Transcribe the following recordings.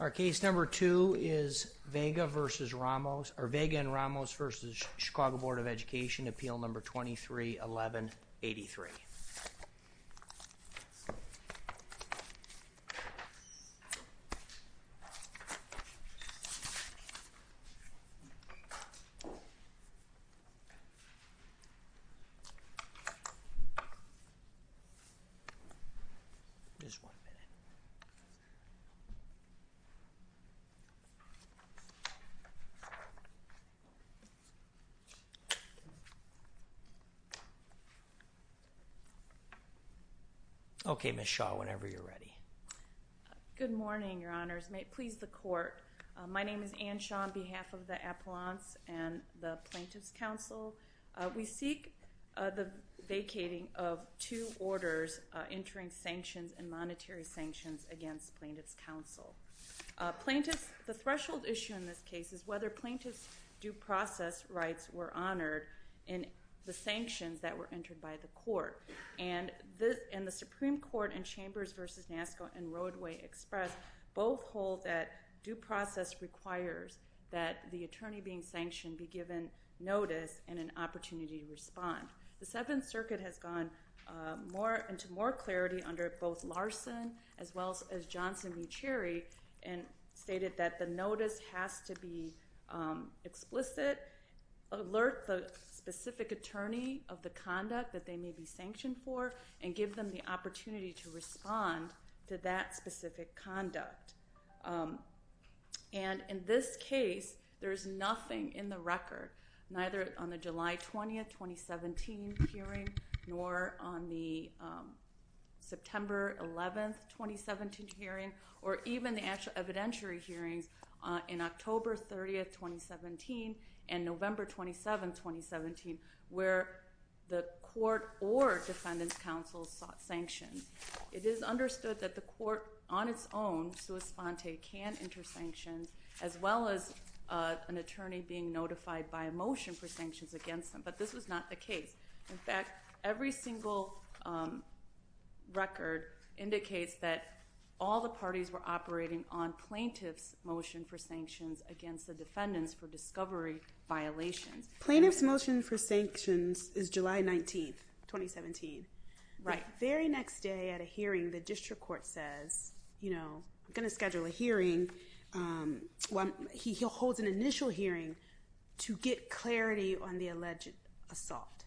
Our case number two is Vega v. Ramos, or Vega and Ramos v. Chicago Board of Education, appeal number 23-11-83. Okay, Ms. Shaw, whenever you're ready. Good morning, Your Honors. May it please the Court, my name is Anne Shaw on behalf of the Appellants and the Plaintiffs' Council. We seek the vacating of two orders, entering sanctions and monetary sanctions against Plaintiffs' Council. The threshold issue in this case is whether plaintiffs' due process rights were honored in the sanctions that were entered by the Court. And the Supreme Court in Chambers v. NASSCO and Roadway Express both hold that due process requires that the attorney being sanctioned be given notice and an opportunity to respond. The Seventh Circuit has gone into more clarity under both Larson as well as Johnson v. Cherry and stated that the notice has to be explicit, alert the specific attorney of the conduct that they may be sanctioned for, and give them the opportunity to respond to that specific conduct. And in this case, there is nothing in the record, neither on the July 20, 2017 hearing nor on the September 11, 2017 hearing or even the evidentiary hearings in October 30, 2017 and November 27, 2017, where the Court or Defendants' Council sought sanctions. It is understood that the Court on its own, sua sponte, can enter sanctions as well as an attorney being notified by a motion for sanctions against them. But this was not the case. In fact, every single record indicates that all the parties were operating on plaintiff's motion for sanctions against the defendants for discovery violations. Plaintiff's motion for sanctions is July 19, 2017. Right. Very next day at a hearing, the district court says, you know, I'm going to schedule a hearing. Well, he holds an initial hearing to get clarity on the alleged assault.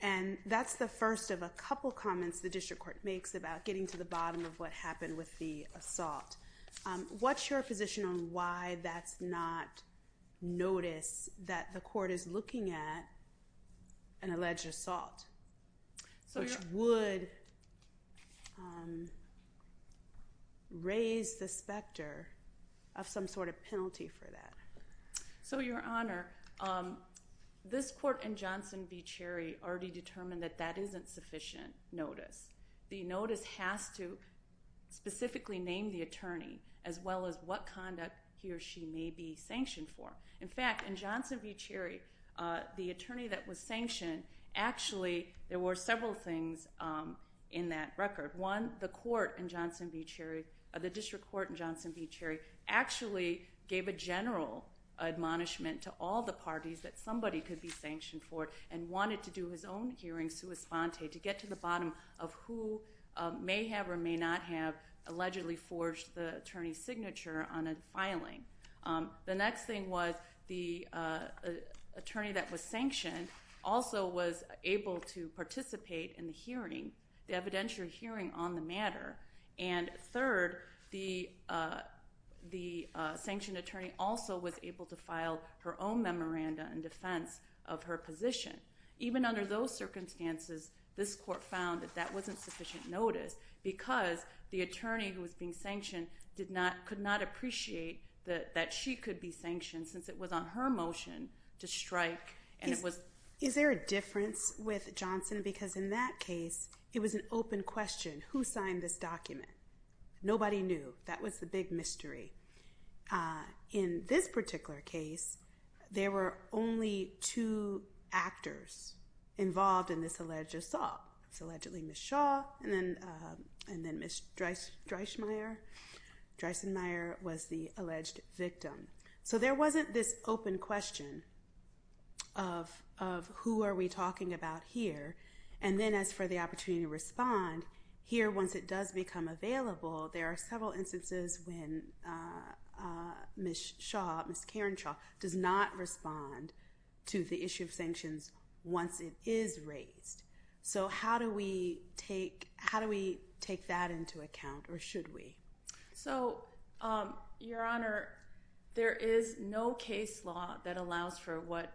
And that's the first of a couple comments the district court makes about getting to the bottom of what happened with the assault. What's your position on why that's not notice that the court is looking at an alleged assault? Which would raise the specter of some sort of penalty for that. So Your Honor, this court and Johnson v. Cherry already determined that that isn't sufficient notice. The notice has to specifically name the attorney as well as what conduct he or she may be sanctioned for. In fact, in Johnson v. Cherry, the attorney that was sanctioned, actually there were several things in that record. One, the court in Johnson v. Cherry, the district court in Johnson v. Cherry actually gave a general admonishment to all the parties that somebody could be sanctioned for and wanted to do his own hearing sua sponte to get to the bottom of who may have or may not have allegedly forged the attorney's signature on a filing. The next thing was the attorney that was sanctioned also was able to participate in the hearing, the evidentiary hearing on the matter. And third, the sanctioned attorney also was able to file her own memoranda in defense of her position. Even under those circumstances, this court found that that wasn't sufficient notice because the attorney who was being sanctioned could not appreciate that she could be sanctioned since it was on her motion to strike. Is there a difference with Johnson? Because in that case, it was an open question. Who signed this document? Nobody knew. That was the big mystery. In this particular case, there were only two actors involved in this alleged assault. Allegedly Ms. Shaw and then Ms. Dreisschmeyer. Dreisschmeyer was the alleged victim. So there wasn't this open question of who are we talking about here. And then as for the opportunity to respond, here once it does become available, there are several instances when Ms. Karen Shaw does not respond to the issue of sanctions once it is raised. So how do we take that into account or should we? So, Your Honor, there is no case law that allows for what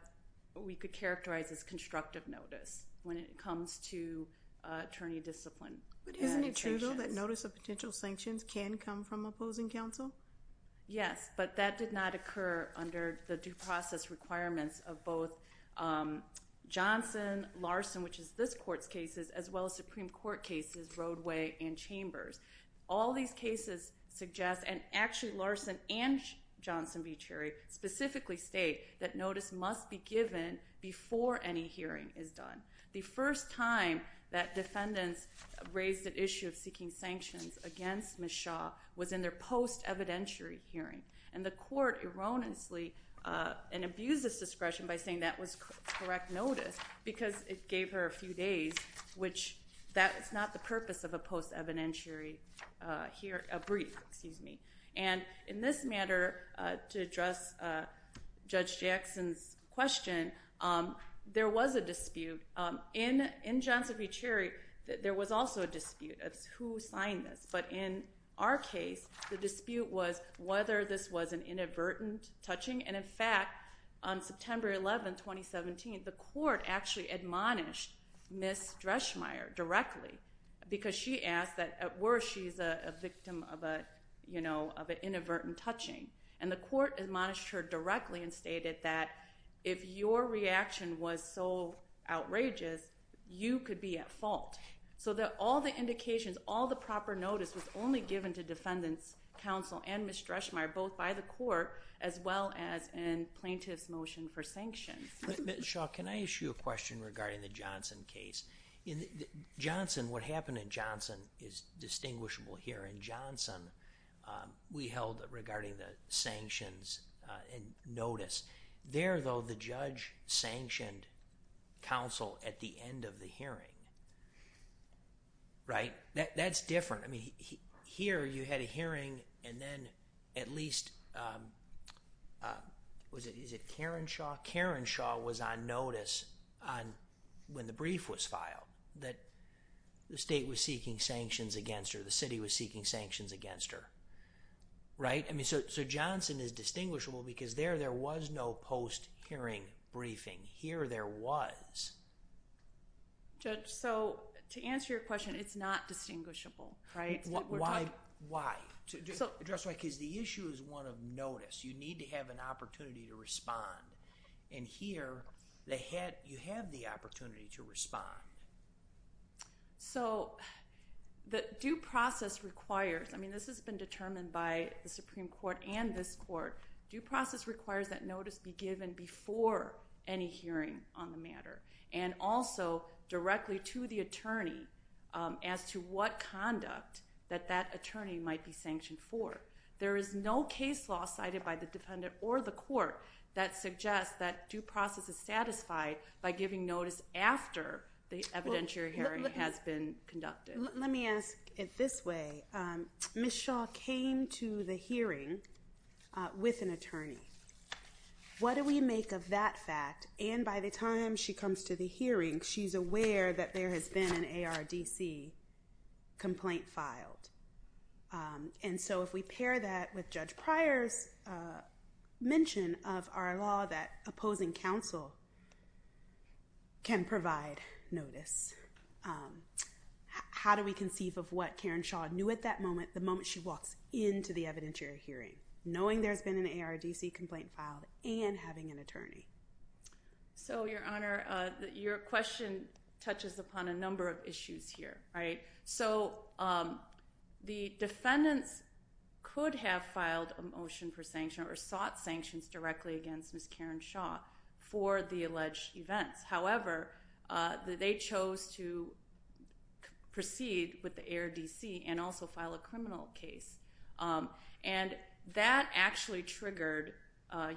we could characterize as constructive notice when it comes to attorney discipline. But isn't it true though that notice of potential sanctions can come from opposing counsel? Yes, but that did not occur under the due process requirements of both Johnson, Larson, which is this Court's cases, as well as Supreme Court cases, Roadway and Chambers. All these cases suggest, and actually Larson and Johnson v. Cherry specifically state that notice must be given before any hearing is done. The first time that defendants raised the issue of seeking sanctions against Ms. Shaw was in their post-evidentiary hearing. And the Court erroneously abused this discretion by saying that was correct notice because it gave her a few days, which that is not the purpose of a post-evidentiary brief. And in this matter, to address Judge Jackson's question, there was a dispute. In Johnson v. Cherry, there was also a dispute as to who signed this. But in our case, the dispute was whether this was an inadvertent touching. And in fact, on September 11, 2017, the Court actually admonished Ms. Dreschmeyer directly because she asked that at worst she's a victim of an inadvertent touching. And the Court admonished her directly and stated that if your reaction was so outrageous, you could be at fault. So that all the indications, all the proper notice was only given to defendants, counsel and Ms. Dreschmeyer, both by the Court as well as in plaintiff's motion for sanctions. But Ms. Shaw, can I ask you a question regarding the Johnson case? What happened in Johnson is distinguishable here. In Johnson, we held, regarding the sanctions and notice, there, though, the judge sanctioned counsel at the end of the hearing, right? That's different. I mean, here, you had a hearing and then at least, was it Karen Shaw? Karen Shaw was on notice when the brief was filed that the state was seeking sanctions against her, the city was seeking sanctions against her, right? I mean, so Johnson is distinguishable because there, there was no post-hearing briefing. Here there was. Judge, so to answer your question, it's not distinguishable, right? Why, why? So, Judge Dreschmeyer, because the issue is one of notice. You need to have an opportunity to respond and here, you have the opportunity to respond. So the due process requires, I mean, this has been determined by the Supreme Court and this court, due process requires that notice be given before any hearing on the matter and also directly to the attorney as to what conduct that that attorney might be sanctioned for. There is no case law cited by the defendant or the court that suggests that due process is satisfied by giving notice after the evidentiary hearing has been conducted. Let me ask it this way. Ms. Shaw came to the hearing with an attorney. What do we make of that fact? And by the time she comes to the hearing, she's aware that there has been an ARDC complaint filed. And so if we pair that with Judge Pryor's mention of our law that opposing counsel can provide notice. How do we conceive of what Karen Shaw knew at that moment, the moment she walks into the evidentiary hearing, knowing there's been an ARDC complaint filed and having an attorney? So Your Honor, your question touches upon a number of issues here, right? So the defendants could have filed a motion for sanction or sought sanctions directly against Ms. Karen Shaw for the alleged events. However, they chose to proceed with the ARDC and also file a criminal case. And that actually triggered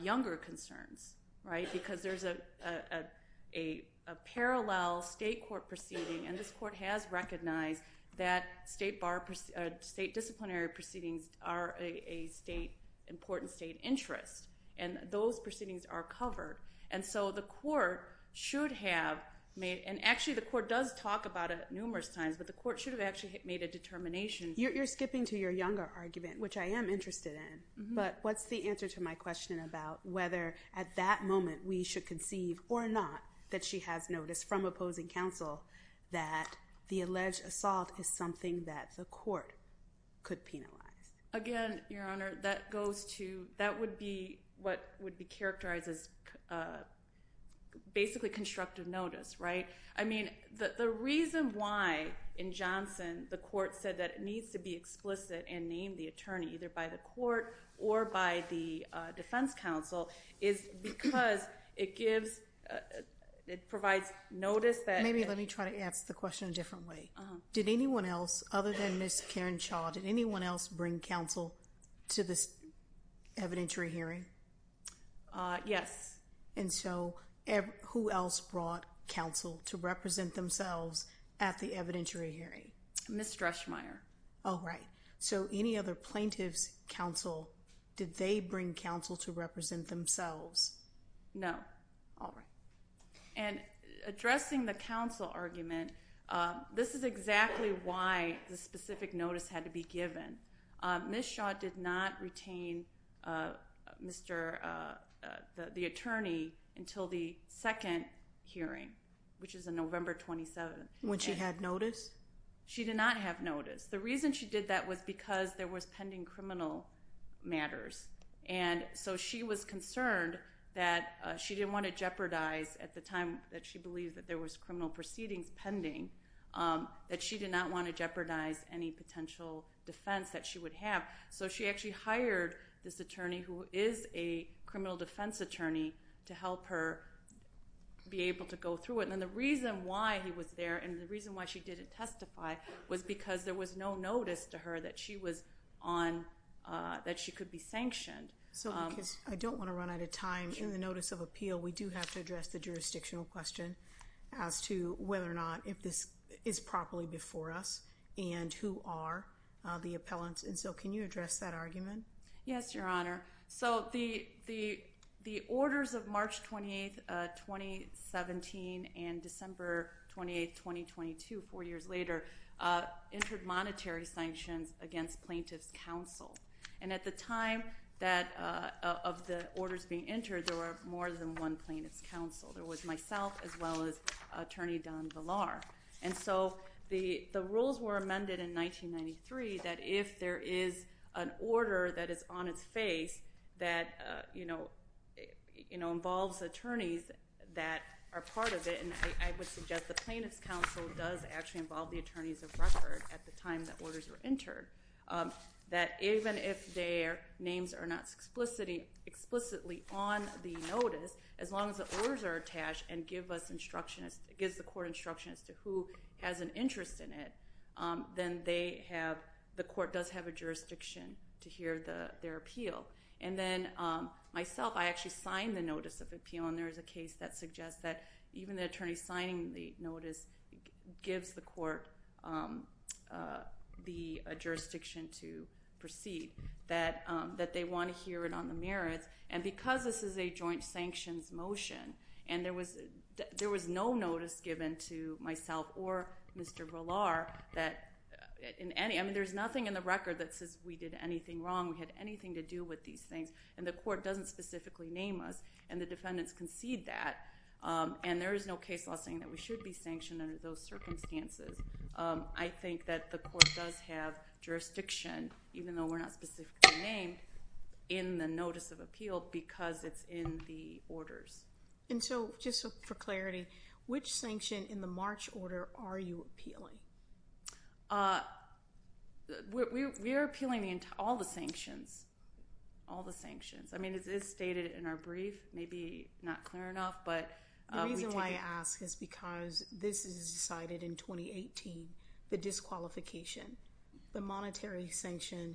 younger concerns, right? Because there's a parallel state court proceeding, and this court has recognized that state disciplinary proceedings are an important state interest. And those proceedings are covered. And so the court should have made, and actually the court does talk about it numerous times, but the court should have actually made a determination. You're skipping to your younger argument, which I am interested in, but what's the answer to my question about whether at that moment we should conceive or not that she has noticed from opposing counsel that the alleged assault is something that the court could penalize? Again, Your Honor, that goes to, that would be what would be characterized as basically constructive notice, right? I mean, the reason why in Johnson the court said that it needs to be explicit and name the attorney, either by the court or by the defense counsel, is because it gives, it provides notice that- Maybe let me try to ask the question a different way. Did anyone else, other than Ms. Cairnshaw, did anyone else bring counsel to this evidentiary hearing? Yes. And so who else brought counsel to represent themselves at the evidentiary hearing? Ms. Dreschmeyer. Oh, right. So any other plaintiffs' counsel, did they bring counsel to represent themselves? No. All right. And addressing the counsel argument, this is exactly why the specific notice had to be given. Ms. Shaw did not retain the attorney until the second hearing, which is on November 27th. When she had notice? She did not have notice. The reason she did that was because there was pending criminal matters, and so she was going to jeopardize, at the time that she believed that there was criminal proceedings pending, that she did not want to jeopardize any potential defense that she would have. So she actually hired this attorney, who is a criminal defense attorney, to help her be able to go through it. And then the reason why he was there, and the reason why she didn't testify, was because there was no notice to her that she was on, that she could be sanctioned. So because I don't want to run out of time, in the notice of appeal, we do have to address the jurisdictional question as to whether or not if this is properly before us, and who are the appellants. And so can you address that argument? Yes, Your Honor. So the orders of March 28th, 2017, and December 28th, 2022, four years later, entered monetary sanctions against plaintiffs' counsel. And at the time of the orders being entered, there were more than one plaintiff's counsel. There was myself, as well as Attorney Don Villar. And so the rules were amended in 1993, that if there is an order that is on its face, that involves attorneys that are part of it, and I would suggest the plaintiff's counsel does actually involve the attorneys of record at the time the orders were entered, that even if their names are not explicitly on the notice, as long as the orders are attached and gives the court instruction as to who has an interest in it, then the court does have a jurisdiction to hear their appeal. And then myself, I actually signed the notice of appeal, and there is a case that suggests that even the attorney signing the notice gives the court the jurisdiction to proceed, that they want to hear it on the merits. And because this is a joint sanctions motion, and there was no notice given to myself or Mr. Villar, that in any—I mean, there's nothing in the record that says we did anything wrong, we had anything to do with these things, and the court doesn't specifically name us, and the defendants concede that. And there is no case law saying that we should be sanctioned under those circumstances. I think that the court does have jurisdiction, even though we're not specifically named, in the notice of appeal, because it's in the orders. And so, just for clarity, which sanction in the March order are you appealing? We are appealing all the sanctions. All the sanctions. I mean, it is stated in our brief, maybe not clear enough, but we take it— The reason why I ask is because this is decided in 2018, the disqualification. The monetary sanction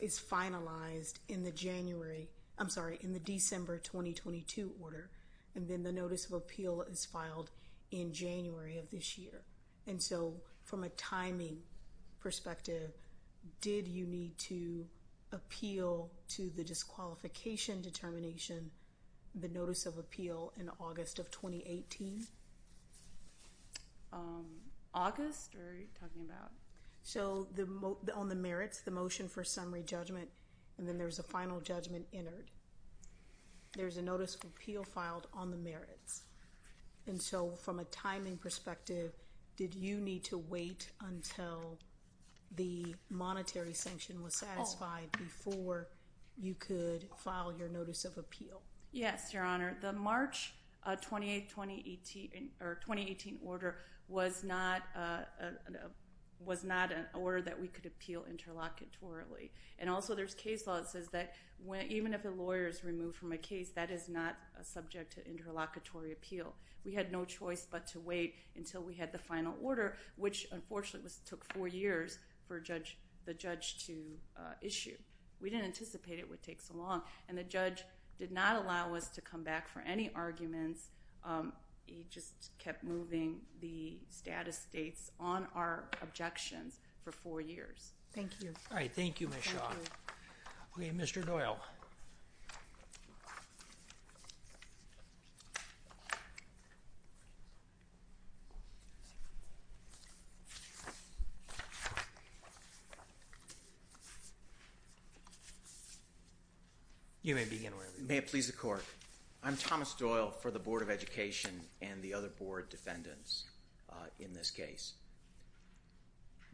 is finalized in the January—I'm sorry, in the December 2022 order, and then the notice of appeal is filed in January of this year. And so, from a timing perspective, did you need to appeal to the disqualification determination, the notice of appeal, in August of 2018? August? Or are you talking about— So on the merits, the motion for summary judgment, and then there's a final judgment entered. There's a notice of appeal filed on the merits. And so, from a timing perspective, did you need to wait until the monetary sanction was satisfied before you could file your notice of appeal? Yes, Your Honor. The March 2018 order was not an order that we could appeal interlocutorily. And also, there's case law that says that even if a lawyer is removed from a case, that is not subject to interlocutory appeal. We had no choice but to wait until we had the final order, which unfortunately took four years for the judge to issue. We didn't anticipate it would take so long, and the judge did not allow us to come back for any arguments. He just kept moving the status dates on our objections for four years. Thank you. All right. Thank you, Ms. Shaw. Thank you. Okay. Mr. Doyle. You may begin, wherever you are. May it please the Court. I'm Thomas Doyle for the Board of Education and the other Board defendants in this case.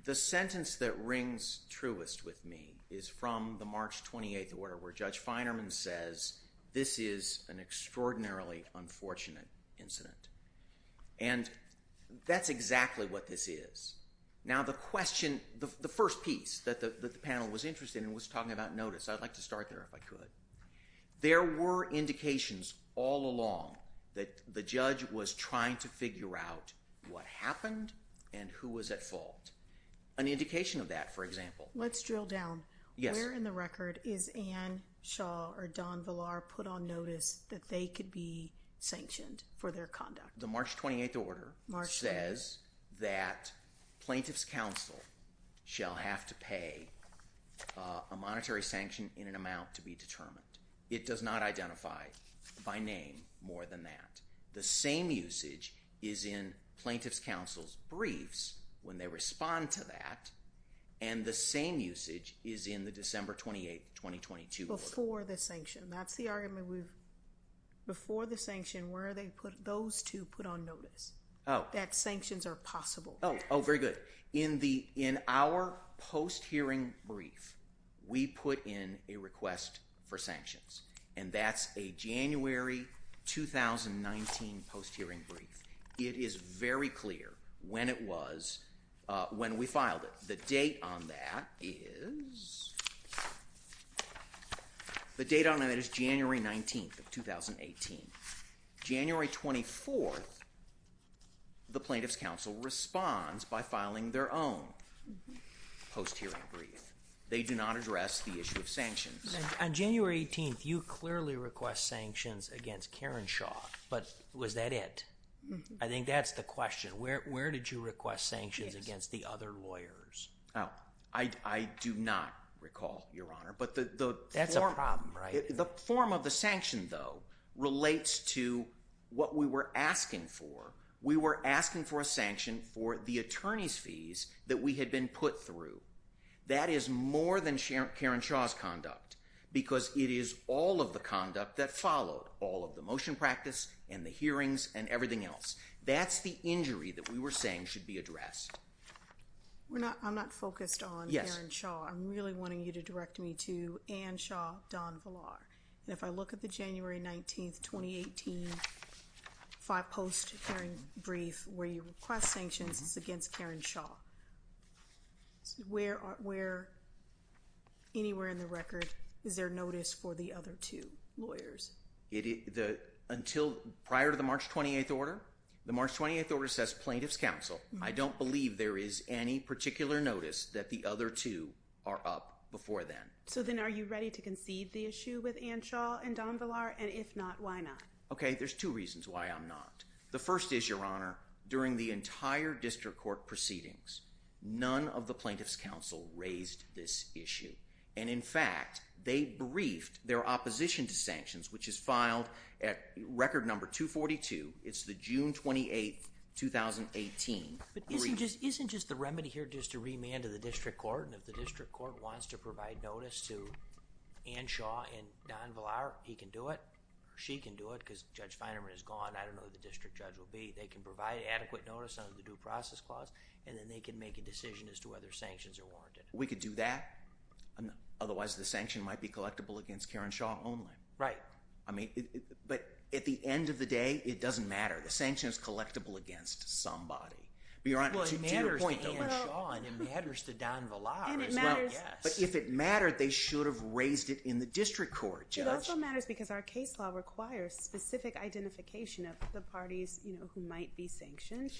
The sentence that rings truest with me is from the March 28th order, where Judge Feinerman says, this is an extraordinarily unfortunate incident. And that's exactly what this is. Now the question, the first piece that the panel was interested in was talking about notice. I'd like to start there, if I could. There were indications all along that the judge was trying to figure out what happened and who was at fault. An indication of that, for example. Let's drill down. Yes. Where in the record is Anne Shaw or Don Villar put on notice that they could be sanctioned for their conduct? The March 28th order says that plaintiff's counsel shall have to pay a monetary sanction in an amount to be determined. It does not identify, by name, more than that. The same usage is in plaintiff's counsel's briefs when they respond to that. And the same usage is in the December 28th, 2022 order. Before the sanction. That's the argument we've, before the sanction, where are they put, those two put on notice? Oh. That sanctions are possible. Oh. Oh, very good. In the, in our post-hearing brief, we put in a request for sanctions. And that's a January 2019 post-hearing brief. It is very clear when it was, when we filed it. The date on that is, the date on that is January 19th of 2018. January 24th, the plaintiff's counsel responds by filing their own post-hearing brief. They do not address the issue of sanctions. On January 18th, you clearly request sanctions against Karen Shaw, but was that it? I think that's the question. Where did you request sanctions against the other lawyers? Oh, I do not recall, Your Honor. But the form. That's a problem, right? The form of the sanction, though, relates to what we were asking for. We were asking for a sanction for the attorney's fees that we had been put through. That is more than Karen Shaw's conduct. Because it is all of the conduct that followed, all of the motion practice and the hearings and everything else. That's the injury that we were saying should be addressed. We're not, I'm not focused on Karen Shaw. I'm really wanting you to direct me to Anne Shaw, Don Villar. And if I look at the January 19th, 2018, five post-hearing brief where you request sanctions is against Karen Shaw. Where, anywhere in the record, is there notice for the other two lawyers? Until prior to the March 28th order. The March 28th order says plaintiff's counsel. I don't believe there is any particular notice that the other two are up before then. So then are you ready to concede the issue with Anne Shaw and Don Villar? And if not, why not? Okay, there's two reasons why I'm not. The first is, Your Honor, during the entire district court proceedings, none of the plaintiff's counsel raised this issue. And in fact, they briefed their opposition to sanctions, which is filed at record number 242. It's the June 28th, 2018 brief. Isn't just the remedy here just to remand to the district court, and if the district court wants to provide notice to Anne Shaw and Don Villar, he can do it. She can do it. Because Judge Feinerman is gone. I don't know who the district judge will be. They can provide adequate notice under the due process clause, and then they can make a decision as to whether sanctions are warranted. We could do that, otherwise the sanction might be collectible against Karen Shaw only. Right. I mean, but at the end of the day, it doesn't matter. The sanction is collectible against somebody. Your Honor, to your point, Anne Shaw, and it matters to Don Villar as well. And it matters. Yes. But if it mattered, they should have raised it in the district court, Judge. It also matters because our case law requires specific identification of the parties, you know, who might be sanctioned.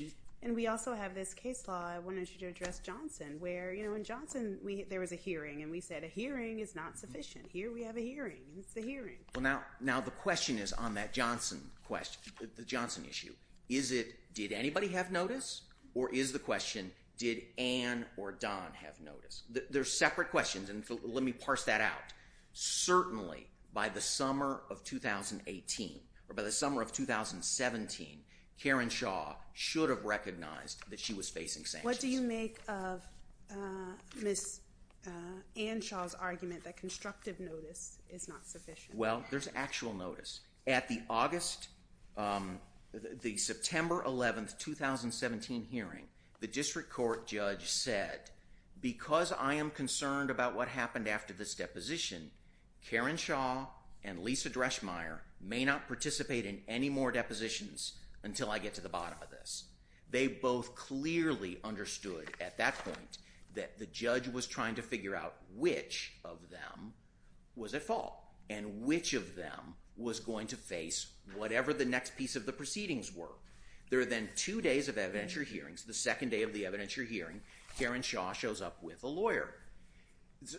And we also have this case law, I wanted you to address Johnson, where, you know, in Johnson, there was a hearing, and we said a hearing is not sufficient. Here we have a hearing. It's the hearing. Well, now the question is on that Johnson question, the Johnson issue. Is it, did anybody have notice? Or is the question, did Anne or Don have notice? They're separate questions, and let me parse that out. Certainly, by the summer of 2018, or by the summer of 2017, Karen Shaw should have recognized that she was facing sanctions. What do you make of Ms. Anne Shaw's argument that constructive notice is not sufficient? Well, there's actual notice. At the August, the September 11th, 2017 hearing, the district court judge said, because I am concerned about what happened after this deposition, Karen Shaw and Lisa Dreschmeyer may not participate in any more depositions until I get to the bottom of this. They both clearly understood at that point that the judge was trying to figure out which of them was at fault, and which of them was going to face whatever the next piece of the proceedings were. There are then two days of evidentiary hearings. The second day of the evidentiary hearing, Karen Shaw shows up with a lawyer.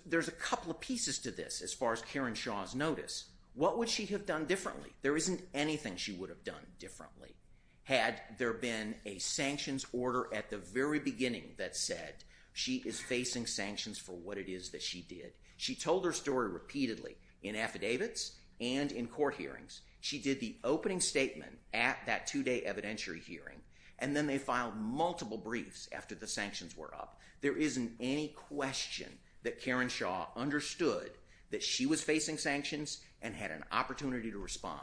There's a couple of pieces to this, as far as Karen Shaw's notice. What would she have done differently? There isn't anything she would have done differently, had there been a sanctions order at the very She told her story repeatedly in affidavits and in court hearings. She did the opening statement at that two-day evidentiary hearing, and then they filed multiple briefs after the sanctions were up. There isn't any question that Karen Shaw understood that she was facing sanctions and had an opportunity to respond.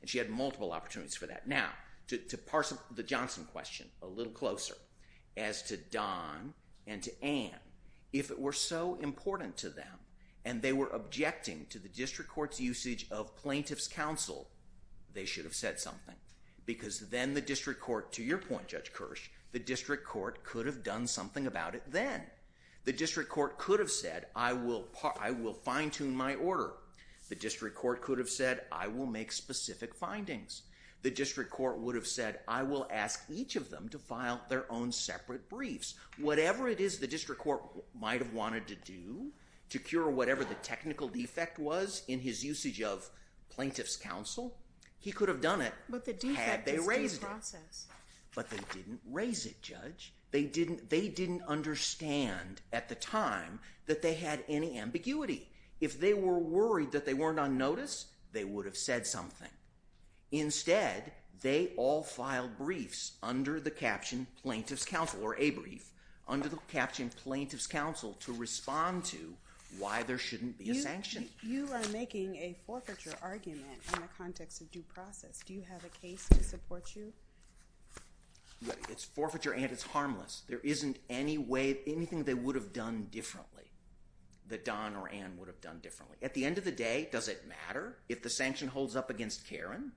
And she had multiple opportunities for that. Now, to parse the Johnson question a little closer, as to Don and to Anne, if it were so important to them, and they were objecting to the district court's usage of plaintiff's counsel, they should have said something. Because then the district court, to your point, Judge Kirsch, the district court could have done something about it then. The district court could have said, I will fine-tune my order. The district court could have said, I will make specific findings. The district court would have said, I will ask each of them to file their own separate briefs. And whatever it is the district court might have wanted to do to cure whatever the technical defect was in his usage of plaintiff's counsel, he could have done it had they raised it. But they didn't raise it, Judge. They didn't understand at the time that they had any ambiguity. If they were worried that they weren't on notice, they would have said something. Instead, they all filed briefs under the caption plaintiff's counsel, or a brief, under the caption plaintiff's counsel to respond to why there shouldn't be a sanction. You are making a forfeiture argument in the context of due process. Do you have a case to support you? It's forfeiture and it's harmless. There isn't any way, anything they would have done differently, that Don or Anne would have done differently. At the end of the day, does it matter if the sanction holds up against Karen?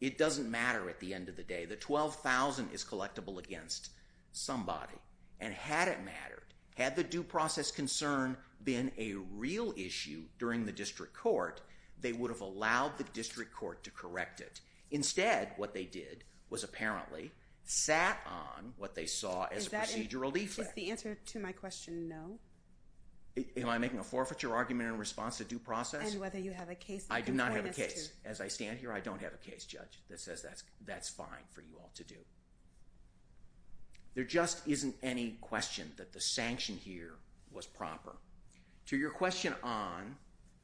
It doesn't matter at the end of the day. The $12,000 is collectible against somebody. And had it mattered, had the due process concern been a real issue during the district court, they would have allowed the district court to correct it. Instead, what they did was apparently sat on what they saw as a procedural defect. Is the answer to my question no? Am I making a forfeiture argument in response to due process? And whether you have a case that can point us to... I do not have a case. As I stand here, I don't have a case, Judge, that says that's fine for you all to do. There just isn't any question that the sanction here was proper. To your question on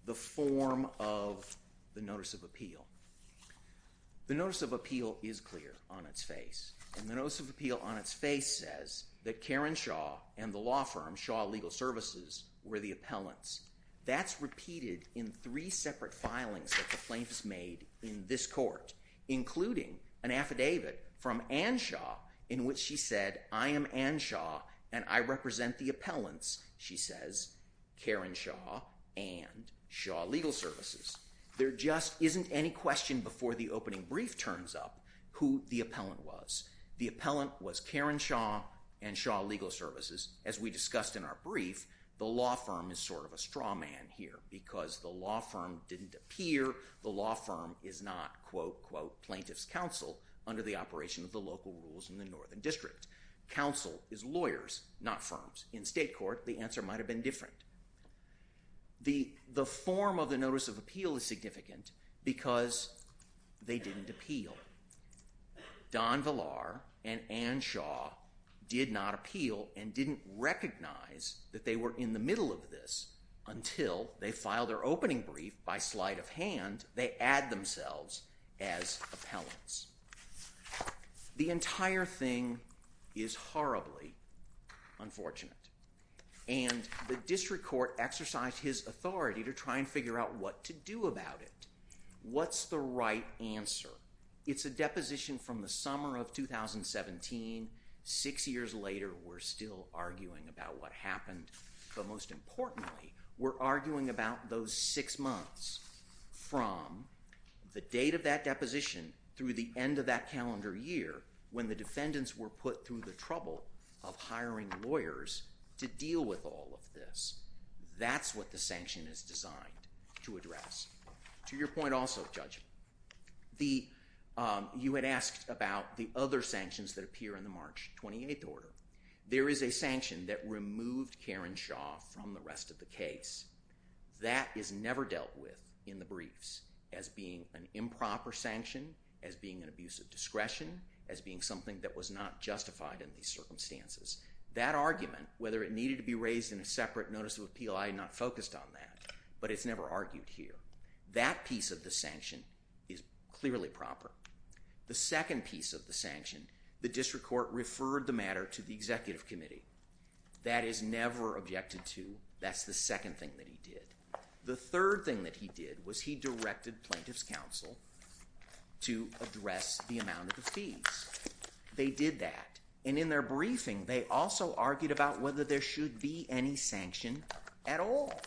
the form of the Notice of Appeal. The Notice of Appeal is clear on its face, and the Notice of Appeal on its face says that Karen Shaw and the law firm, Shaw Legal Services, were the appellants. That's repeated in three separate filings that the plaintiffs made in this court, including an affidavit from Anne Shaw in which she said, I am Anne Shaw, and I represent the appellants, she says, Karen Shaw and Shaw Legal Services. There just isn't any question before the opening brief turns up who the appellant was. The appellant was Karen Shaw and Shaw Legal Services. As we discussed in our brief, the law firm is sort of a straw man here because the law firm didn't appear. The law firm is not, quote, quote, plaintiff's counsel under the operation of the local rules in the Northern District. Counsel is lawyers, not firms. In state court, the answer might have been different. The form of the Notice of Appeal is significant because they didn't appeal. Don Villar and Anne Shaw did not appeal and didn't recognize that they were in the middle of this until they filed their opening brief by sleight of hand. They add themselves as appellants. The entire thing is horribly unfortunate, and the district court exercised his authority to try and figure out what to do about it. What's the right answer? It's a deposition from the summer of 2017. Six years later, we're still arguing about what happened, but most importantly, we're arguing about those six months from the date of that deposition through the end of that calendar year when the defendants were put through the trouble of hiring lawyers to deal with all of this. That's what the sanction is designed to address. To your point also, Judge, you had asked about the other sanctions that appear in the March 28th order. There is a sanction that removed Karen Shaw from the rest of the case. That is never dealt with in the briefs as being an improper sanction, as being an abuse of discretion, as being something that was not justified in these circumstances. That argument, whether it needed to be raised in a separate Notice of Appeal, I am not focused on that, but it's never argued here. That piece of the sanction is clearly proper. The second piece of the sanction, the district court referred the matter to the executive committee. That is never objected to. That's the second thing that he did. The third thing that he did was he directed plaintiff's counsel to address the amount of the fees. They did that, and in their briefing, they also argued about whether there should be any sanction at all.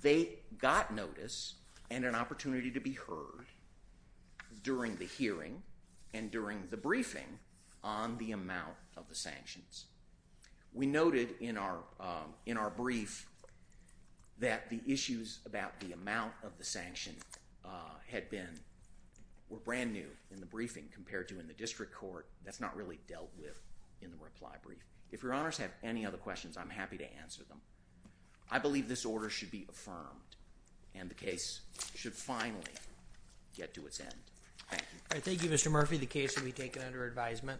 They got notice and an opportunity to be heard during the hearing and during the briefing on the amount of the sanctions. We noted in our brief that the issues about the amount of the sanction were brand new in the briefing compared to in the district court. That's not really dealt with in the reply brief. If your honors have any other questions, I'm happy to answer them. I believe this order should be affirmed, and the case should finally get to its end. Thank you. All right. Thank you, Mr. Murphy. The case will be taken under advisement.